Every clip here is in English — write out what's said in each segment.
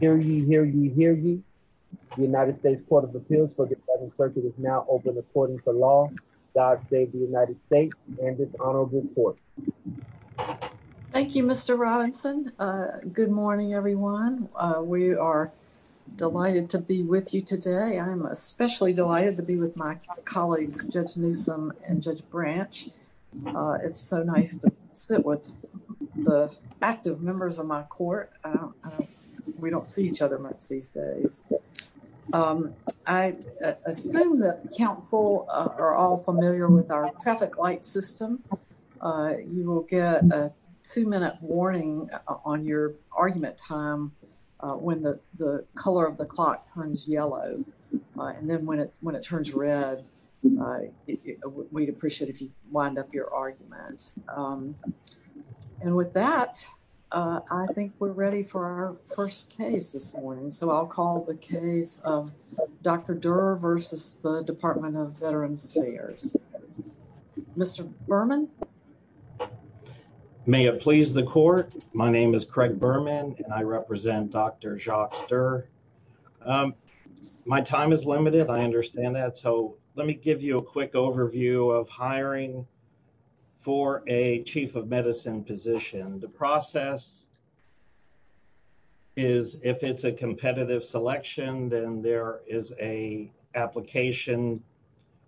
Hear ye, hear ye, hear ye. The United States Court of Appeals for the Defending Circuit is now open according to law. God save the United States and this honorable court. Thank you, Mr. Robinson. Good morning, everyone. We are delighted to be with you today. I'm especially delighted to be with my colleagues, Judge Newsom and Judge Branch. It's so nice to the active members of my court. We don't see each other much these days. I assume that counsel are all familiar with our traffic light system. You will get a two-minute warning on your argument time when the color of the clock turns yellow. And then when it And with that, I think we're ready for our first case this morning. So I'll call the case of Dr. Durr versus the Department of Veterans Affairs. Mr. Berman. May it please the court. My name is Craig Berman and I represent Dr. Jacques Durr. My time is limited. I understand that. So let me give you a quick overview of hiring for a chief of medicine position. The process is if it's a competitive selection, then there is a application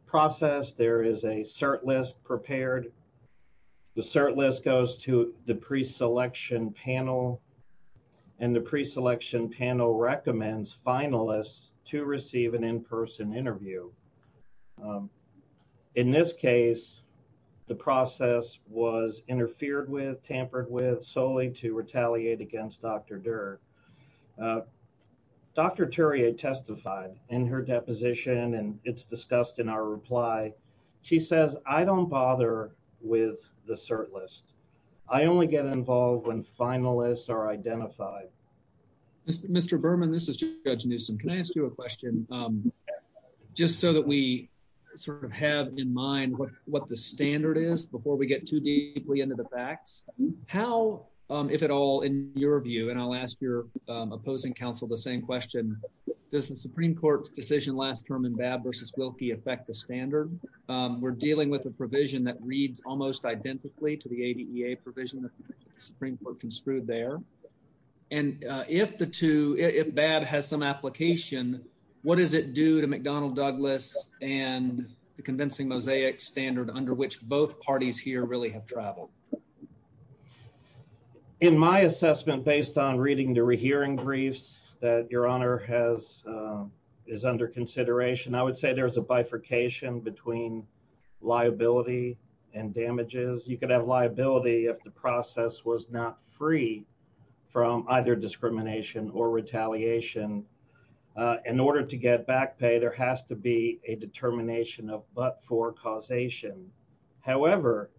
process. There is a cert list prepared. The cert list goes to the pre-selection panel and the pre-selection panel recommends finalists to receive an in-person interview. Um, in this case, the process was interfered with, tampered with solely to retaliate against Dr. Durr. Uh, Dr. Turia testified in her deposition and it's discussed in our reply. She says, I don't bother with the cert list. I only get involved when finalists are identified. Mr. Berman, this is Judge Newsome. Can I ask you a question? Um, just so that we sort of have in mind what the standard is before we get too deeply into the facts. How, um, if at all in your view, and I'll ask your, um, opposing counsel the same question, does the Supreme Court's decision last term in Babb versus Wilkie affect the standard? Um, we're dealing with a provision that reads almost identically to the ADEA provision. The Supreme Court construed there. And, uh, if the two, if Babb has some application, what does it do to McDonnell Douglas and the convincing mosaic standard under which both parties here really have traveled? In my assessment, based on reading the rehearing briefs that your honor has, um, is under consideration, I would say there's a You could have liability if the process was not free from either discrimination or retaliation. In order to get back pay, there has to be a determination of, but for causation. However,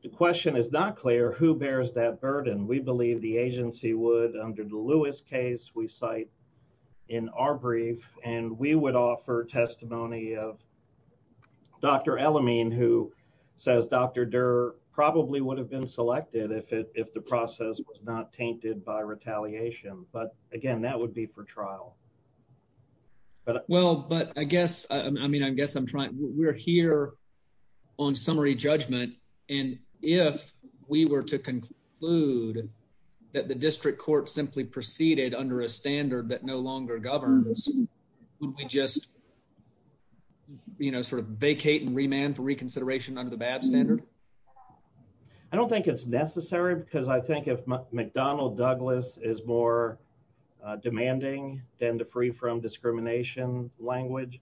the question is not clear who bears that burden. We believe the agency would under the Lewis case we cite in our brief, and we would offer testimony of Dr. Elamine, who says Dr. Durr probably would have been selected if the process was not tainted by retaliation. But again, that would be for trial. But well, but I guess I mean, I guess I'm trying. We're here on summary judgment. And if we were to conclude that the district court simply proceeded under a standard that no longer governs, would we just, you know, sort of vacate and remand for reconsideration under the Babb standard? I don't think it's necessary because I think if McDonnell Douglas is more demanding than the free from discrimination language.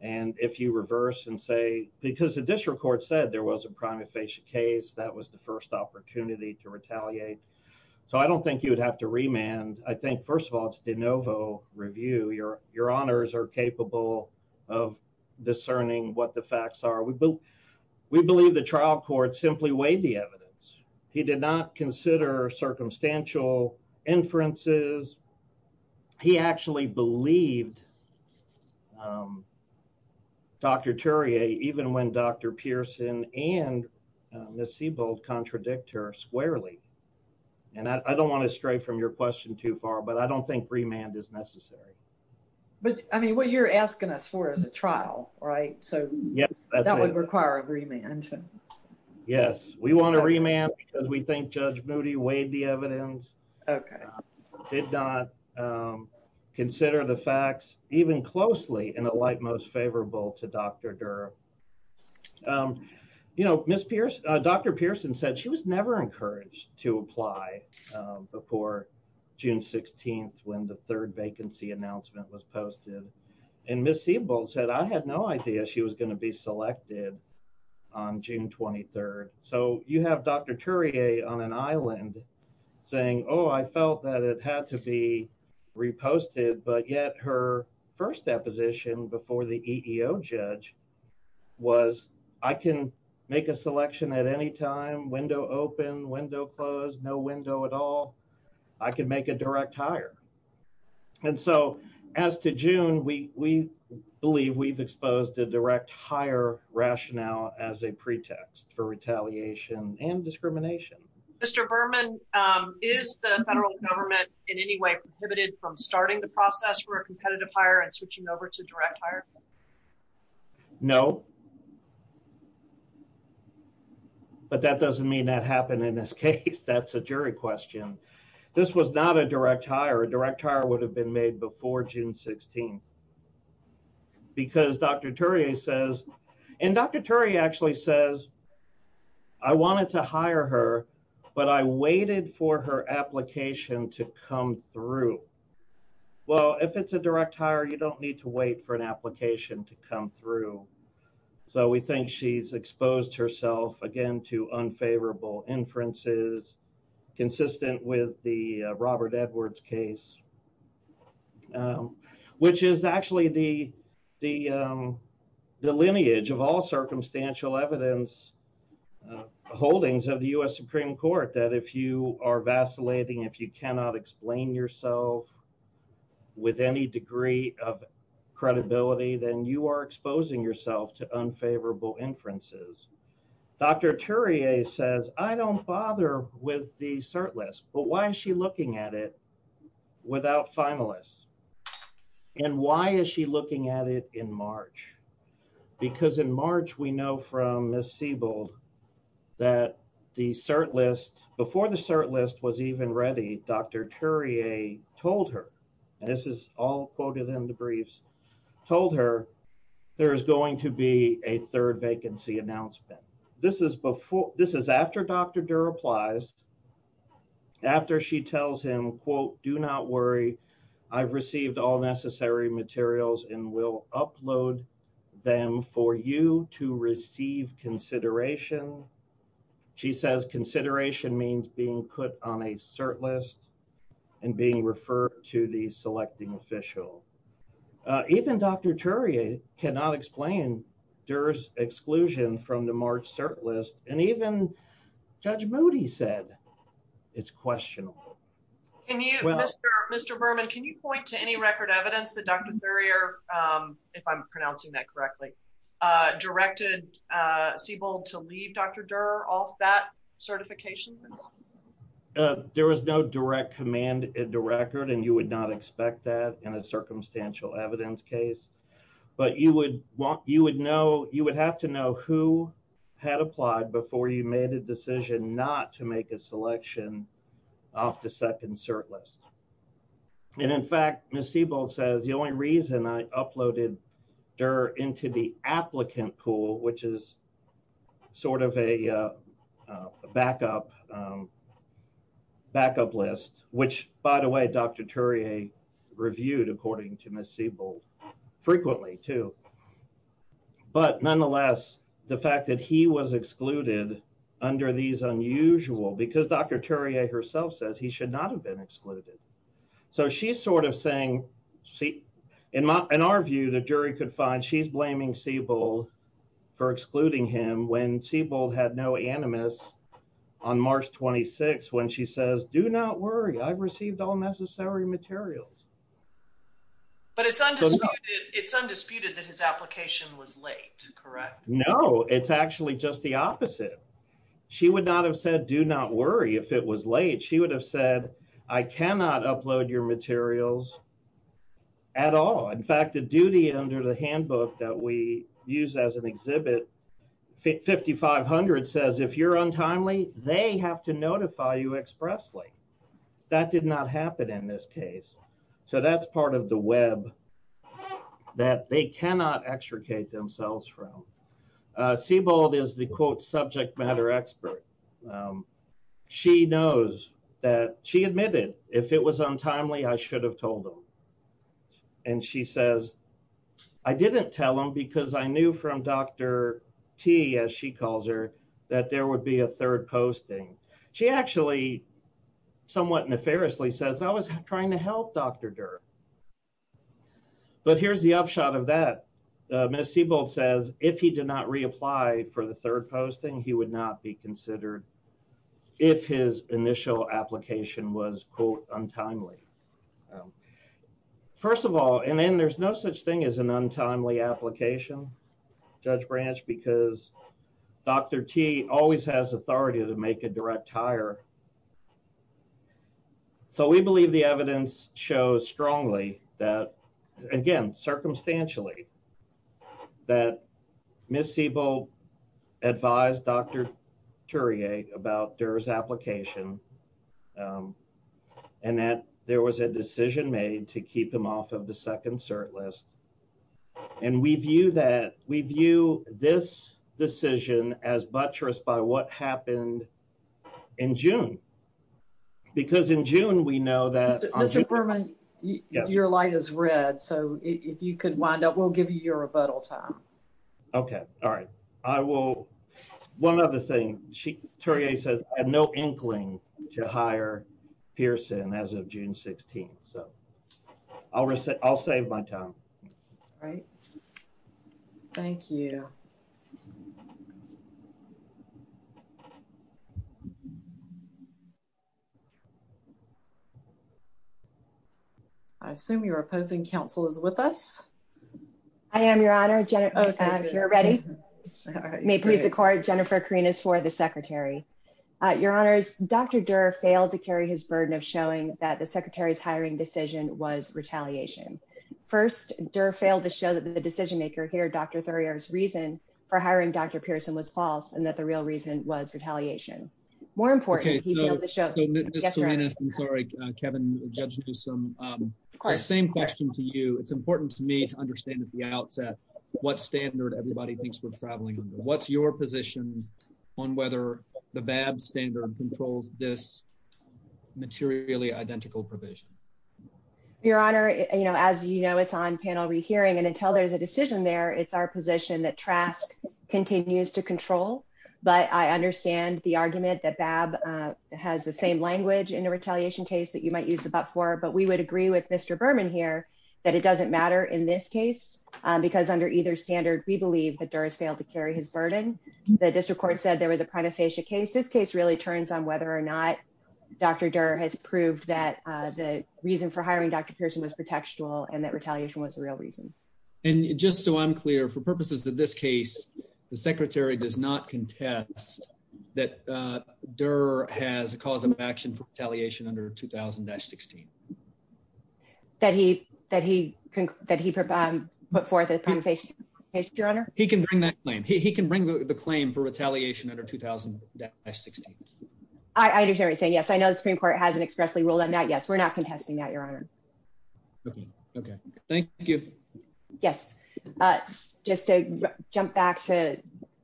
And if you reverse and say, because the district court said there was a prima facie case, that was the first opportunity to retaliate. So I don't think you would have to remand. I think first of all, it's de novo review. Your, your honors are capable of discerning what the facts are. We believe the trial court simply weighed the evidence. He did not consider circumstantial inferences. He actually believed um, Dr. Turia, even when Dr. Pearson and Ms. Siebel contradict her squarely. And I don't want to stray from your question too far, but I don't think remand is necessary. But I mean, what you're asking us for is a trial, right? So yeah, that would require a remand. Yes, we want to remand because we think Judge Moody weighed the evidence. Okay. Did not um, consider the facts even closely in a light, most favorable to Dr. Durr. Um, you know, Ms. Pierce, Dr. Pearson said she was never encouraged to apply before June 16th when the third vacancy announcement was posted. And Ms. Siebel said, I had no idea she was going to be selected on June 23rd. So you have Dr. Turia on an Island saying, oh, I felt that it had to be reposted. But yet her first deposition before the EEO judge was, I can make a selection at any time, window open, window closed, no window at all. I could make a direct hire. And so as to June, we believe we've exposed a direct hire rationale as a pretext for prohibited from starting the process for a competitive higher and switching over to direct higher. No, but that doesn't mean that happened in this case. That's a jury question. This was not a direct hire. A direct hire would have been made before June 16th because Dr. Terry says, and Dr. Terry actually says I wanted to hire her, but I waited for her application to come through. Well, if it's a direct hire, you don't need to wait for an application to come through. So we think she's exposed herself again to unfavorable inferences consistent with the all circumstantial evidence holdings of the U.S. Supreme court that if you are vacillating, if you cannot explain yourself with any degree of credibility, then you are exposing yourself to unfavorable inferences. Dr. Terry says, I don't bother with the cert list, but why is looking at it without finalists? And why is she looking at it in March? Because in March, we know from Ms. Siebel that the cert list, before the cert list was even ready, Dr. Turier told her, and this is all quoted in the briefs, told her there's going to be a third vacancy announcement. This is before, this is after Dr. Durr applies, after she tells him, quote, do not worry, I've received all necessary materials and will upload them for you to receive consideration. She says consideration means being put on a cert list and being referred to the from the March cert list. And even Judge Moody said it's questionable. Can you, Mr. Berman, can you point to any record evidence that Dr. Durrier, if I'm pronouncing that correctly, directed Siebel to leave Dr. Durr off that certification? There was no direct command in the record, and you would not expect that in a circumstantial evidence case. But you would want, you would know, you would have to know who had applied before you made a decision not to make a selection off the second cert list. And in fact, Ms. Siebel says the only reason I uploaded Durr into the applicant pool, which is sort of a backup, um, backup list, which by the way, Dr. Durrier reviewed according to Ms. Siebel frequently too. But nonetheless, the fact that he was excluded under these unusual, because Dr. Durrier herself says he should not have been excluded. So she's sort of saying, see, in my, in our view, the jury could find she's blaming Siebel for excluding him when Siebel had no animus on March 26, when she says, do not worry, I've received all necessary materials. But it's undisputed, it's undisputed that his application was late, correct? No, it's actually just the opposite. She would not have said, do not worry if it was late, she would have said, I cannot upload your materials at all. In fact, the duty under the handbook that we use as an exhibit, 5500 says, if you're untimely, they have to notify you expressly. That did not happen in this case. So that's part of the web that they cannot extricate themselves from. Siebel is the quote subject matter expert. She knows that she admitted if it was untimely, I should have told them. And she says, I didn't tell him because I knew from Dr. T, as she calls her, that there would be a third posting. She actually somewhat nefariously says I was trying to help Dr. Durr. But here's the upshot of that. Ms. Siebel says if he did not untimely. First of all, and then there's no such thing as an untimely application, Judge Branch, because Dr. T always has authority to make a direct hire. So we believe the evidence shows strongly that again, circumstantially that Ms. Siebel advised Dr. Turia about Durr's application. And that there was a decision made to keep him off of the second cert list. And we view that we view this decision as buttress by what happened in June. Because in June, we know that your light is red. So if you could wind up, we'll give you your rebuttal time. Okay. All right. I will. One other thing. She, Turia says I have no inkling to hire Pearson as of June 16th. So I'll, I'll save my time. Right. Thank you. I assume you're opposing counsel is with us. I am your honor. You're ready. May please accord. Jennifer Kareen is for the secretary. Your honors, Dr. Durr failed to carry his burden of showing that the secretary's hiring decision was retaliation. First Durr failed to show that the decision maker here, Dr. Thurrier's reason for hiring Dr. Pearson was false. And that the real reason was retaliation. More important, he's able to show. I'm sorry, Kevin, Judge Newsome. Same question to you. It's important to me to understand at the outset, what standard everybody thinks we're traveling under. What's your position on whether the BAB standard controls this materially identical provision? Your honor, you know, as you know, it's on panel rehearing and until there's a decision there, it's our position that Trask continues to control, but I understand the argument that BAB has the same language in a retaliation case that you might use the BAP for, but we would agree with Mr. Berman here that it doesn't matter in this case because under either standard, we believe that Durr has failed to carry his burden. The district court said there was a prima facie case. This case really turns on whether or not Dr. Durr has proved that the reason for hiring Dr. Pearson was pretextual and that just so I'm clear, for purposes of this case, the secretary does not contest that Durr has a cause of action for retaliation under 2000-16. That he put forth a prima facie case, your honor? He can bring that claim. He can bring the claim for retaliation under 2000-16. I understand what you're saying. Yes, I know the Supreme Court hasn't expressly ruled on that. Yes, not contesting that, your honor. Okay. Thank you. Yes. Just to jump back to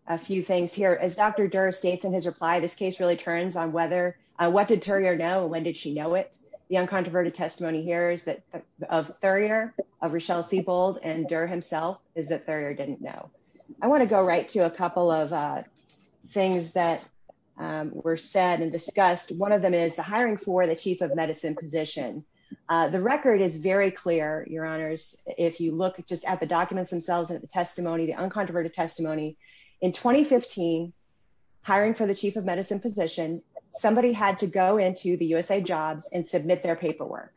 a few things here. As Dr. Durr states in his reply, this case really turns on what did Thurier know and when did she know it? The uncontroverted testimony here is that of Thurier, of Rochelle Siebold, and Durr himself is that Thurier didn't know. I want to go right to a couple of things that were said and discussed. One of them is the hiring for the chief of medicine position. The record is very clear, your honors. If you look just at the documents themselves and the testimony, the uncontroverted testimony in 2015, hiring for the chief of medicine position, somebody had to go into the USA jobs and submit their paperwork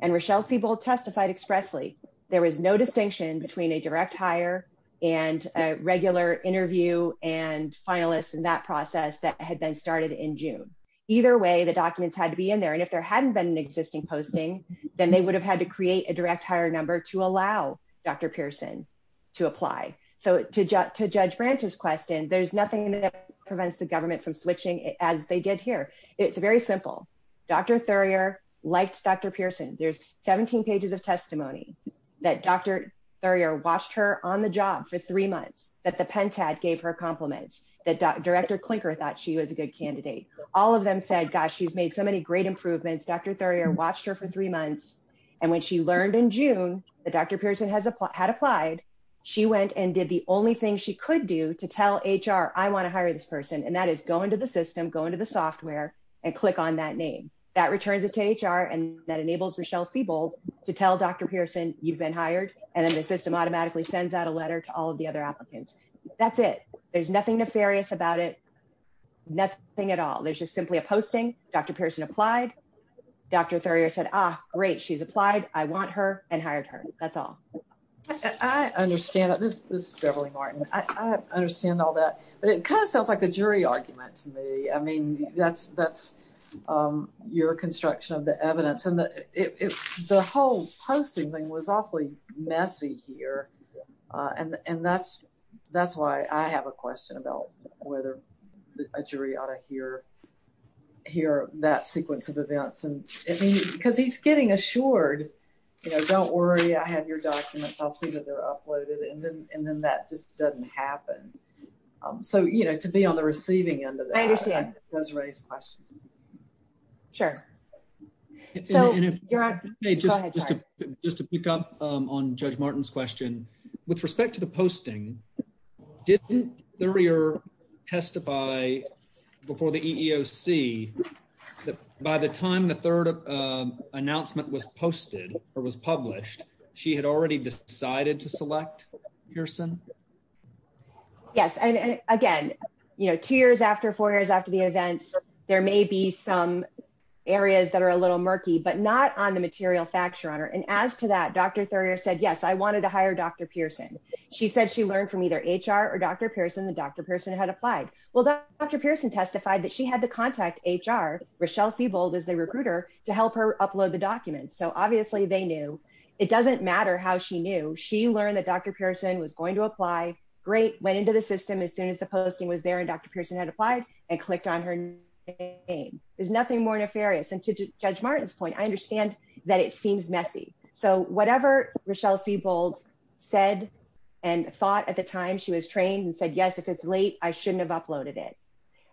and Rochelle Siebold testified expressly. There was no distinction between a direct hire and a regular interview and finalists in that process that had been started in June. Either way, the documents had to be in there and if there hadn't been an existing posting, then they would have had to create a direct hire number to allow Dr. Pearson to apply. So to judge Branch's question, there's nothing that prevents the government from switching as they did here. It's very simple. Dr. Thurier liked Dr. Pearson. There's 17 pages of testimony that Dr. Thurier watched her on the job for three months, that the pentad gave her compliments, that Director Klinker thought she was a good candidate. All of them said, gosh, she's made so many great improvements. Dr. Thurier watched her for three months and when she learned in June that Dr. Pearson had applied, she went and did the only thing she could do to tell HR, I want to hire this person and that is go into the system, go into the software and click on that name. That returns it to HR and that enables Rochelle Siebold to tell Dr. Pearson you've been hired and then the system automatically sends out a letter to all of the other applicants. That's it. There's nothing nefarious about it. Nothing at all. There's just simply a posting. Dr. Pearson applied. Dr. Thurier said, ah, great, she's applied. I want her and hired her. That's all. I understand. This is Beverly Martin. I understand all that, but it kind of sounds like a jury argument to me. I mean, that's your construction of the evidence. The whole posting thing was awfully messy here and that's why I have a question about whether a jury ought to hear that sequence of events because he's getting assured, don't worry, I have your documents. I'll see that they're uploaded and then that just doesn't happen. So, you know, to be on the receiving end of that does raise questions. Sure. So you're just just to pick up on Judge Martin's question with respect to the posting, didn't Thurier testify before the EEOC that by the time the third announcement was posted or was published, she had already decided to select Pearson? Yes. And again, you know, two some areas that are a little murky, but not on the material factor on her. And as to that, Dr. Thurier said, yes, I wanted to hire Dr. Pearson. She said she learned from either HR or Dr. Pearson that Dr. Pearson had applied. Well, Dr. Pearson testified that she had to contact HR, Rochelle Siebold is a recruiter, to help her upload the documents. So obviously they knew. It doesn't matter how she knew. She learned that Dr. Pearson was going to apply. Great. Went into the system as soon as the posting was there and Dr. Pearson had applied and clicked on her name. There's nothing more nefarious. And to Judge Martin's point, I understand that it seems messy. So whatever Rochelle Siebold said and thought at the time she was trained and said, yes, if it's late, I shouldn't have uploaded it.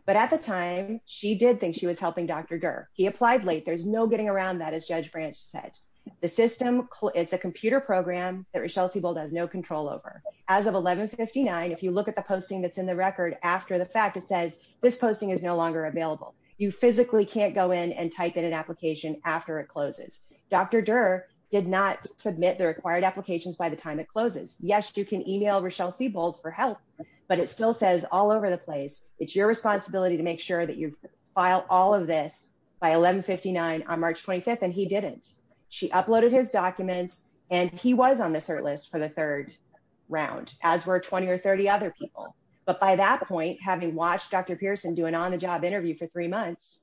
But at the time she did think she was helping Dr. Durr. He applied late. There's no getting around that, as Judge Branch said. The system, it's a computer program that Rochelle Siebold has no control over. As of 1159, if you look at the posting that's in the record after the fact, it says this posting is no longer available. You physically can't go in and type in an application after it closes. Dr. Durr did not submit the required applications by the time it closes. Yes, you can email Rochelle Siebold for help, but it still says all over the place, it's your responsibility to make sure that you file all of this by 1159 on March 25th. And he didn't. She uploaded his documents and he was on But by that point, having watched Dr. Pearson do an on the job interview for three months,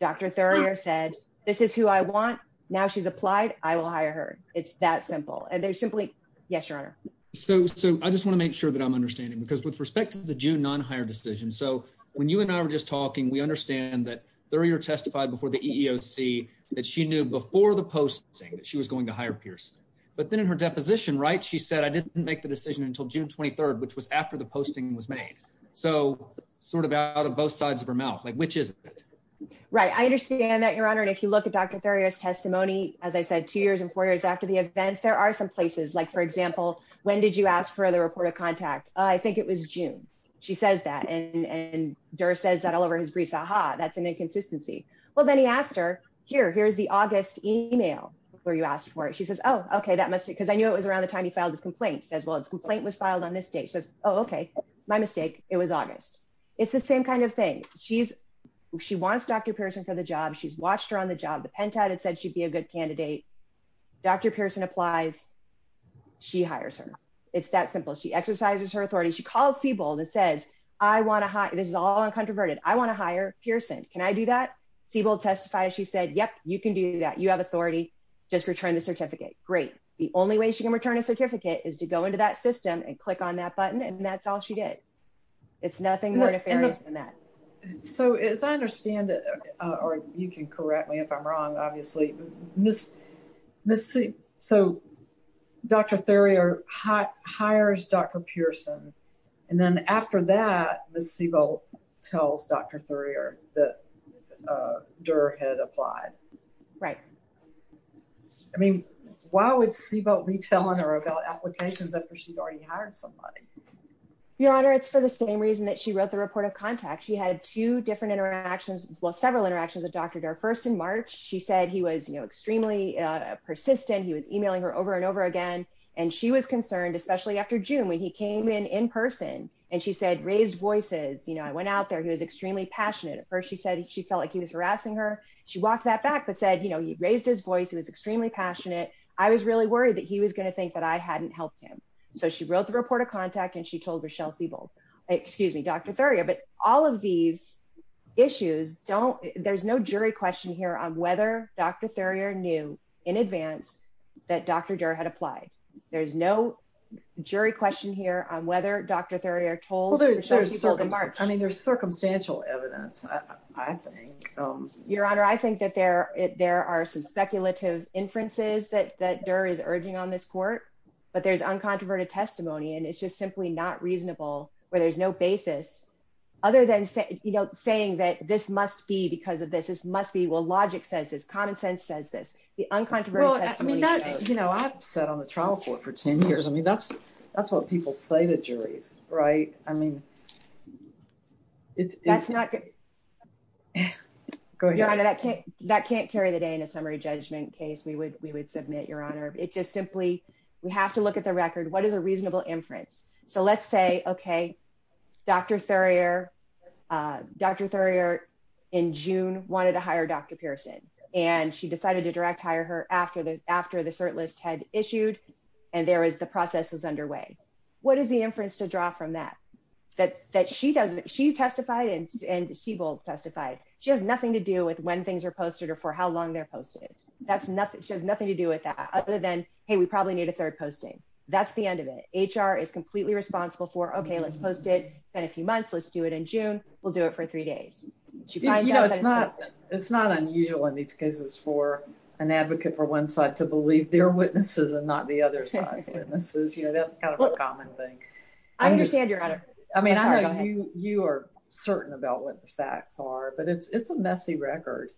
Dr. Thurrier said, this is who I want. Now she's applied. I will hire her. It's that simple. And there's simply, yes, your honor. So, so I just want to make sure that I'm understanding because with respect to the June non-hire decision. So when you and I were just talking, we understand that Thurrier testified before the EEOC that she knew before the posting that she was going to hire Pearson. But then in her deposition, right, she said, I didn't make the decision until June 23rd, which was after the posting was made. So sort of out of both sides of her mouth, like, which is right. I understand that your honor. And if you look at Dr. Thurrier's testimony, as I said, two years and four years after the events, there are some places like, for example, when did you ask for the report of contact? I think it was June. She says that. And Dura says that all over his briefs, aha, that's an inconsistency. Well, then he asked her here, here's the August email where you asked for it. She says, oh, okay, that must be because I knew it was around the time he filed his complaint. He says, well, his complaint was filed on this date. She says, oh, okay, my mistake. It was August. It's the same kind of thing. She's, she wants Dr. Pearson for the job. She's watched her on the job. The pentad had said she'd be a good candidate. Dr. Pearson applies. She hires her. It's that simple. She exercises her authority. She calls Siebold and says, I want to hire, this is all uncontroverted. I want to hire Pearson. Can I do that? Siebold testifies. She said, yep, you can do that. You have authority. Just return the certificate. Great. The only way she can return a certificate is to go into that system and click on that button. And that's all she did. It's nothing more nefarious than that. So as I understand it, or you can correct me if I'm wrong, obviously, so Dr. Thurier hires Dr. Pearson. And then after that, Ms. Siebold tells Dr. Thurier that I mean, why would Siebold be telling her about applications after she'd already hired somebody? Your Honor, it's for the same reason that she wrote the report of contact. She had two different interactions, well, several interactions with Dr. Thurier. First in March, she said he was, you know, extremely persistent. He was emailing her over and over again. And she was concerned, especially after June, when he came in in person and she said, raised voices. You know, I went out there. He was extremely passionate at first. She said she felt like he was harassing her. She walked that back, but said, you know, he raised his voice. He was extremely passionate. I was really worried that he was going to think that I hadn't helped him. So she wrote the report of contact and she told Dr. Thurier. But all of these issues, there's no jury question here on whether Dr. Thurier knew in advance that Dr. Durr had applied. There's no jury question here on whether Dr. Thurier told Dr. Siebold in March. I mean, there's circumstantial evidence, I think. Your Honor, I think that there are some speculative inferences that Durr is urging on this court, but there's uncontroverted testimony. And it's just simply not reasonable where there's no basis other than, you know, saying that this must be because of this, this must be, well, logic says this, common sense says this. The uncontroverted testimony. You know, I've sat on the trial court for 10 years. I mean, that's what people say to juries, right? I mean, it's, that's not good. That can't carry the day in a summary judgment case, we would, we would submit, Your Honor. It just simply, we have to look at the record. What is a reasonable inference? So let's say, okay, Dr. Thurier, Dr. Thurier in June, wanted to hire Dr. Pearson. And she decided to direct hire her after the, after the cert list had issued. And there is the process was underway. What is the inference to draw from that, that, that she doesn't, she testified and, and Siebel testified, she has nothing to do with when things are posted or for how long they're posted. That's nothing. She has nothing to do with that other than, hey, we probably need a third posting. That's the end of it. HR is completely responsible for, okay, let's post it. It's been a few months. Let's do it in June. We'll do it for three days. It's not unusual in these cases for an advocate for one side to believe their witnesses and not the other side's witnesses. You know, that's kind of a common thing. I understand, Your Honor. I mean, you are certain about what the facts are, but it's, it's a messy record.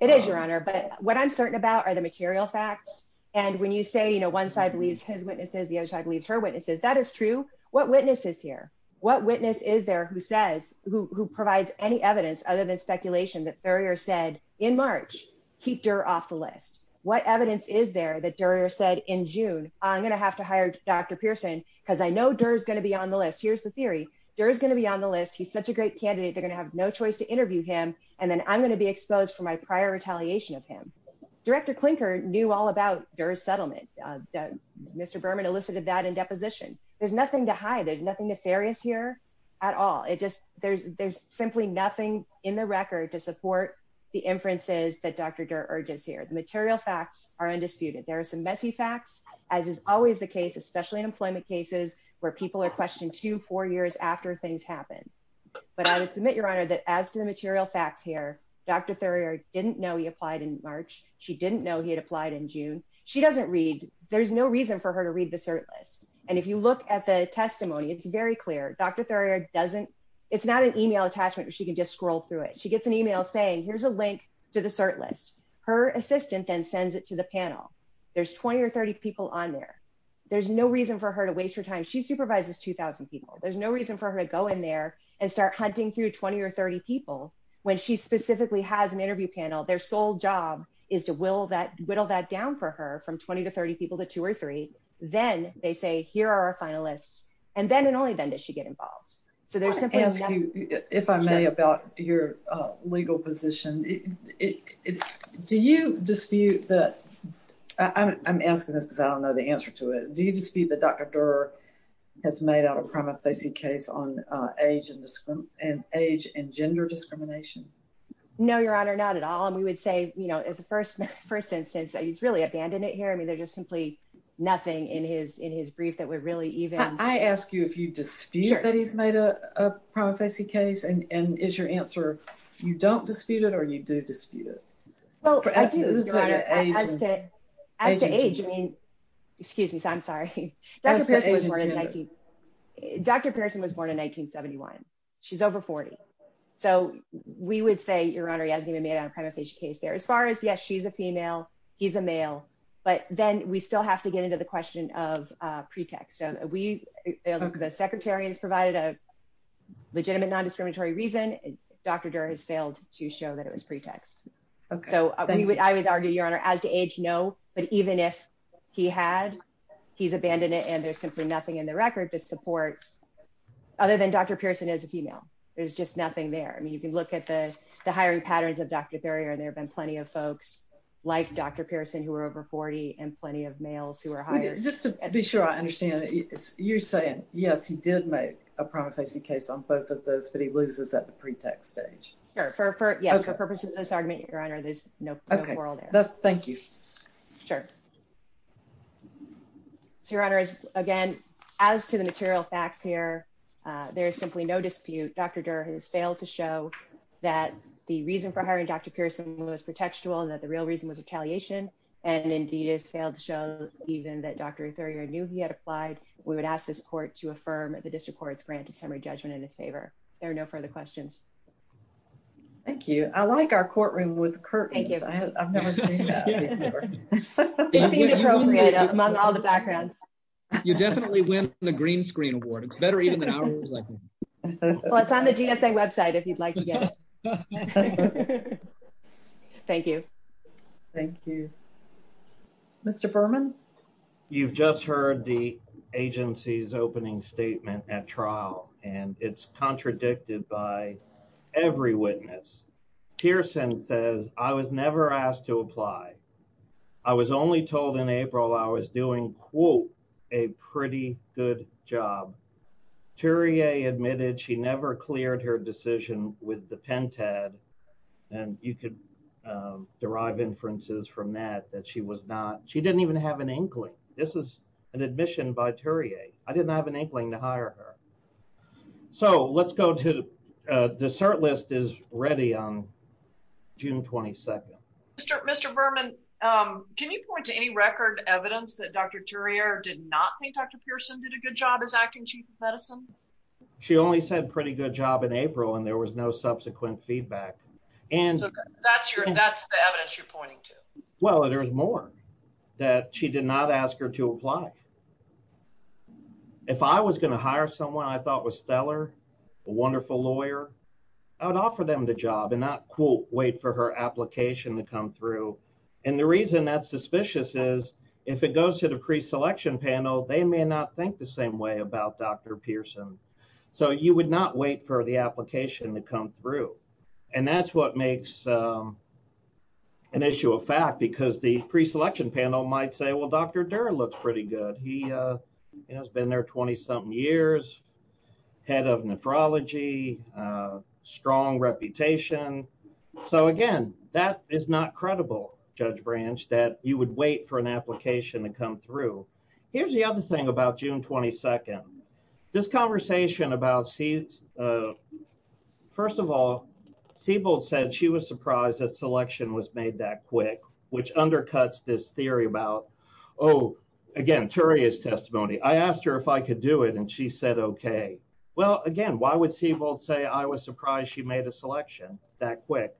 It is, Your Honor. But what I'm certain about are the material facts. And when you say, you know, one side believes his witnesses, the other side believes her witnesses, that is true. What witnesses here, what witness is there who says, who, who provides any evidence other than speculation that Thurier said in March, keep Durr off the list. What evidence is there that Durr said in June, I'm going to have to hire Dr. Pearson because I know Durr is going to be on the list. Here's the theory. Durr is going to be on the list. He's such a great candidate. They're going to have no choice to interview him. And then I'm going to be exposed for my prior retaliation of him. Director Klinker knew all about Durr's settlement. Mr. Berman elicited that in deposition. There's nothing to hide. There's nothing nefarious here at all. It just, there's, there's simply nothing in the record to support the inferences that Dr. Durr urges here. The material facts are undisputed. There are some messy facts as is always the case, especially in employment cases where people are questioned two, four years after things happen. But I would submit your honor that as to the material facts here, Dr. Thurier didn't know he applied in March. She didn't know he had applied in June. She doesn't read, there's no reason for her to read the cert list. And if you look at the testimony, it's very clear. Dr. Thurier doesn't, it's not an email attachment where she can just scroll through it. She gets an email saying, here's a link to the cert list. Her assistant then sends it to the panel. There's 20 or 30 people on there. There's no reason for her to waste her time. She supervises 2000 people. There's no reason for her to go in there and start hunting through 20 or 30 people when she specifically has an interview panel. Their sole job is to will that whittle that down for her from 20 to 30 people to two or three. Then they say, here are our finalists. And then, and only then does she get involved. So there's simply nothing. Your legal position, do you dispute that? I'm asking this because I don't know the answer to it. Do you dispute that Dr. Thurier has made out a prima facie case on age and age and gender discrimination? No, your honor, not at all. And we would say, you know, as a first instance, he's really abandoned it here. I mean, there's just simply nothing in his, in his brief that I ask you if you dispute that he's made a prima facie case. And is your answer, you don't dispute it or you do dispute it? As to age, I mean, excuse me, I'm sorry. Dr. Pearson was born in 1971. She's over 40. So we would say your honor, he hasn't even made out a prima facie case there as far as yes, she's a female, he's a male. But then we still have to get into the question of pretext. So we, the secretary has provided a legitimate non-discriminatory reason. Dr. Durr has failed to show that it was pretext. So I would argue your honor as to age, no, but even if he had, he's abandoned it. And there's simply nothing in the record to support other than Dr. Pearson is a female. There's just nothing there. I mean, you can look at the hiring patterns of Dr. Thurier. And there've been plenty of folks like Dr. Pearson who were over 40 and plenty of males who were hired. Just to be sure I understand that you're saying, yes, he did make a prima facie case on both of those, but he loses at the pretext stage. Sure. For purposes of this argument, your honor, there's no quarrel there. Thank you. Sure. So your honor is again, as to the material facts here, there is simply no dispute. Dr. Durr has failed to show that the reason for hiring Dr. Pearson was pretextual and that the real reason was retaliation. And indeed has failed to show even that Dr. Thurier knew he had applied. We would ask this court to affirm the district court's grant of summary judgment in his favor. There are no further questions. Thank you. I like our courtroom with curtains. You definitely win the green screen award. It's better even than ours. Well, it's on the GSA website if you'd like to get it. Thank you. Thank you, Mr. Berman. You've just heard the agency's opening statement at trial and it's contradicted by every witness. Pearson says, I was never asked to apply. I was only told in April, I was doing quote, a pretty good job. Thurier admitted she never cleared her decision with the pentad. And you could derive inferences from that, that she was not, she didn't even have an inkling. This is an admission by Thurier. I didn't have an inkling to hire her. So let's go to dessert list is ready on June 22nd. Mr. Berman, can you point to any record evidence that Dr. Thurier did not think Dr. Pearson did a good job as acting chief of medicine? She only said pretty good job in April and there was no subsequent feedback. And that's your, that's the evidence you're pointing to. Well, there's more that she did not ask her to apply. If I was going to hire someone I thought was stellar, a wonderful lawyer, I would offer them the job and not wait for her application to come through. And the reason that's suspicious is if it they may not think the same way about Dr. Pearson. So you would not wait for the application to come through. And that's what makes an issue of fact because the pre-selection panel might say, well, Dr. Durer looks pretty good. He has been there 20 something years, head of nephrology, strong reputation. So again, that is not credible judge branch that you would wait for an application to come through. Here's the other thing about June 22nd, this conversation about, first of all, Siebold said she was surprised that selection was made that quick, which undercuts this theory about, oh, again, Thurier's testimony. I asked her if I could do it and she said, okay. Well, again, why would Siebold say I was surprised she made a selection that quick?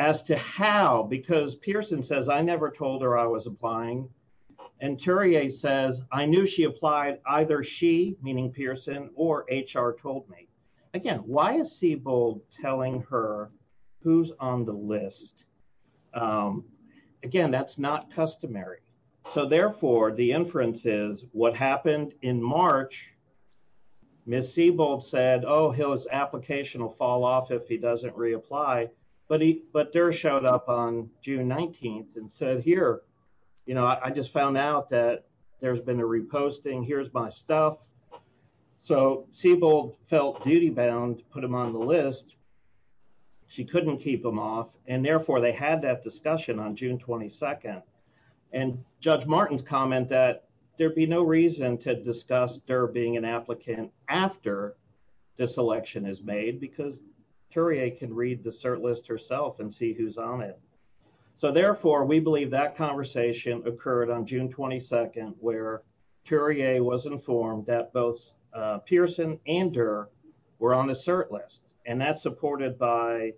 As to how, because Pearson says I never told her I was applying and Thurier says I knew she applied either she, meaning Pearson, or HR told me. Again, why is Siebold telling her who's on the list? Again, that's not customary. So therefore the inference is what happened in March, Ms. Siebold said, oh, his application will fall off if he doesn't reapply, but Durer showed up on June 19th and said, here, I just found out that there's been a reposting. Here's my stuff. So Siebold felt duty bound, put him on the list. She couldn't keep him off and therefore they had that discussion on June 22nd. And Judge Martin's comment that there'd be no reason to discuss Durer being an applicant after this selection is made because Thurier can read the cert list herself and see who's on it. So therefore we believe that conversation occurred on June 22nd where Thurier was informed that both Pearson and Durer were on the cert list. And that's supported by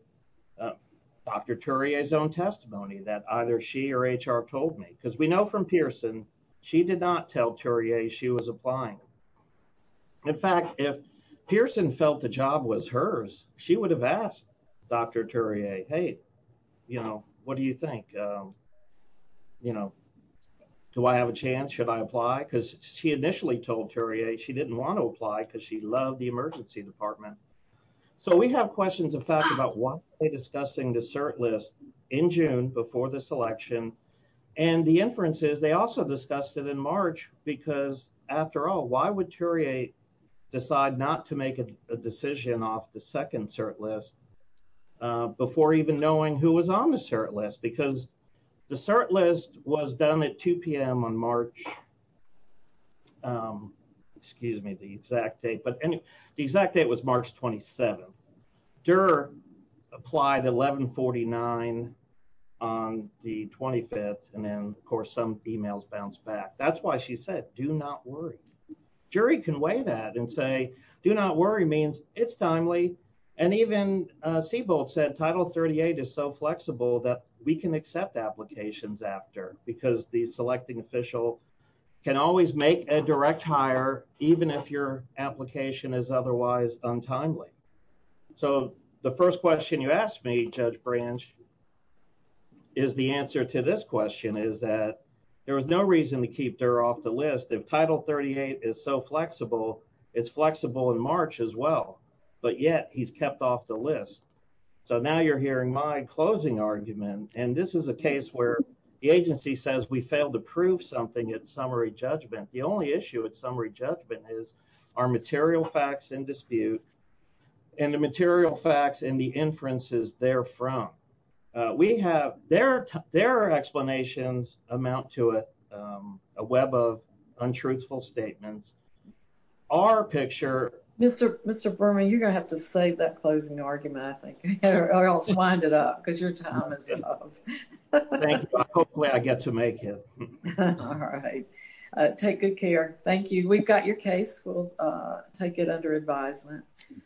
Dr. Thurier's own testimony that either she or HR told me, because we know from Pearson, she did not tell Thurier she was applying. In fact, if Pearson felt the job was hers, she would have asked Dr. Thurier, hey, you know, what do you think? You know, do I have a chance? Should I apply? Because she initially told Thurier she didn't want to apply because she loved the emergency department. So we have questions in fact about why are they discussing the cert list in June before this election? And the inference is they also discussed it in March because after all, why would Thurier decide not to make a decision off the second cert list before even knowing who was on the cert list? Because the cert list was done at 2 p.m. on March, excuse me, the exact date, but Thurier applied 1149 on the 25th, and then of course some emails bounced back. That's why she said do not worry. Jury can weigh that and say do not worry means it's timely, and even Seabolt said Title 38 is so flexible that we can accept applications after because the selecting official can always make a direct hire even if your application is otherwise untimely. So the first question you asked me, Judge Branch, is the answer to this question is that there was no reason to keep Durr off the list. If Title 38 is so flexible, it's flexible in March as well, but yet he's kept off the list. So now you're hearing my closing argument, and this is a case where the agency says we failed to prove something at summary judgment. The only issue at summary judgment is our material facts in dispute and the material facts and the inferences therefrom. We have, their explanations amount to a web of untruthful statements. Our picture... Mr. Burma, you're going to have to save that closing argument, I think, or else wind it up because your time is up. Thank you. I hope I get to make it. All right. Take good care. Thank you. We've got your case. We'll take it under advisement.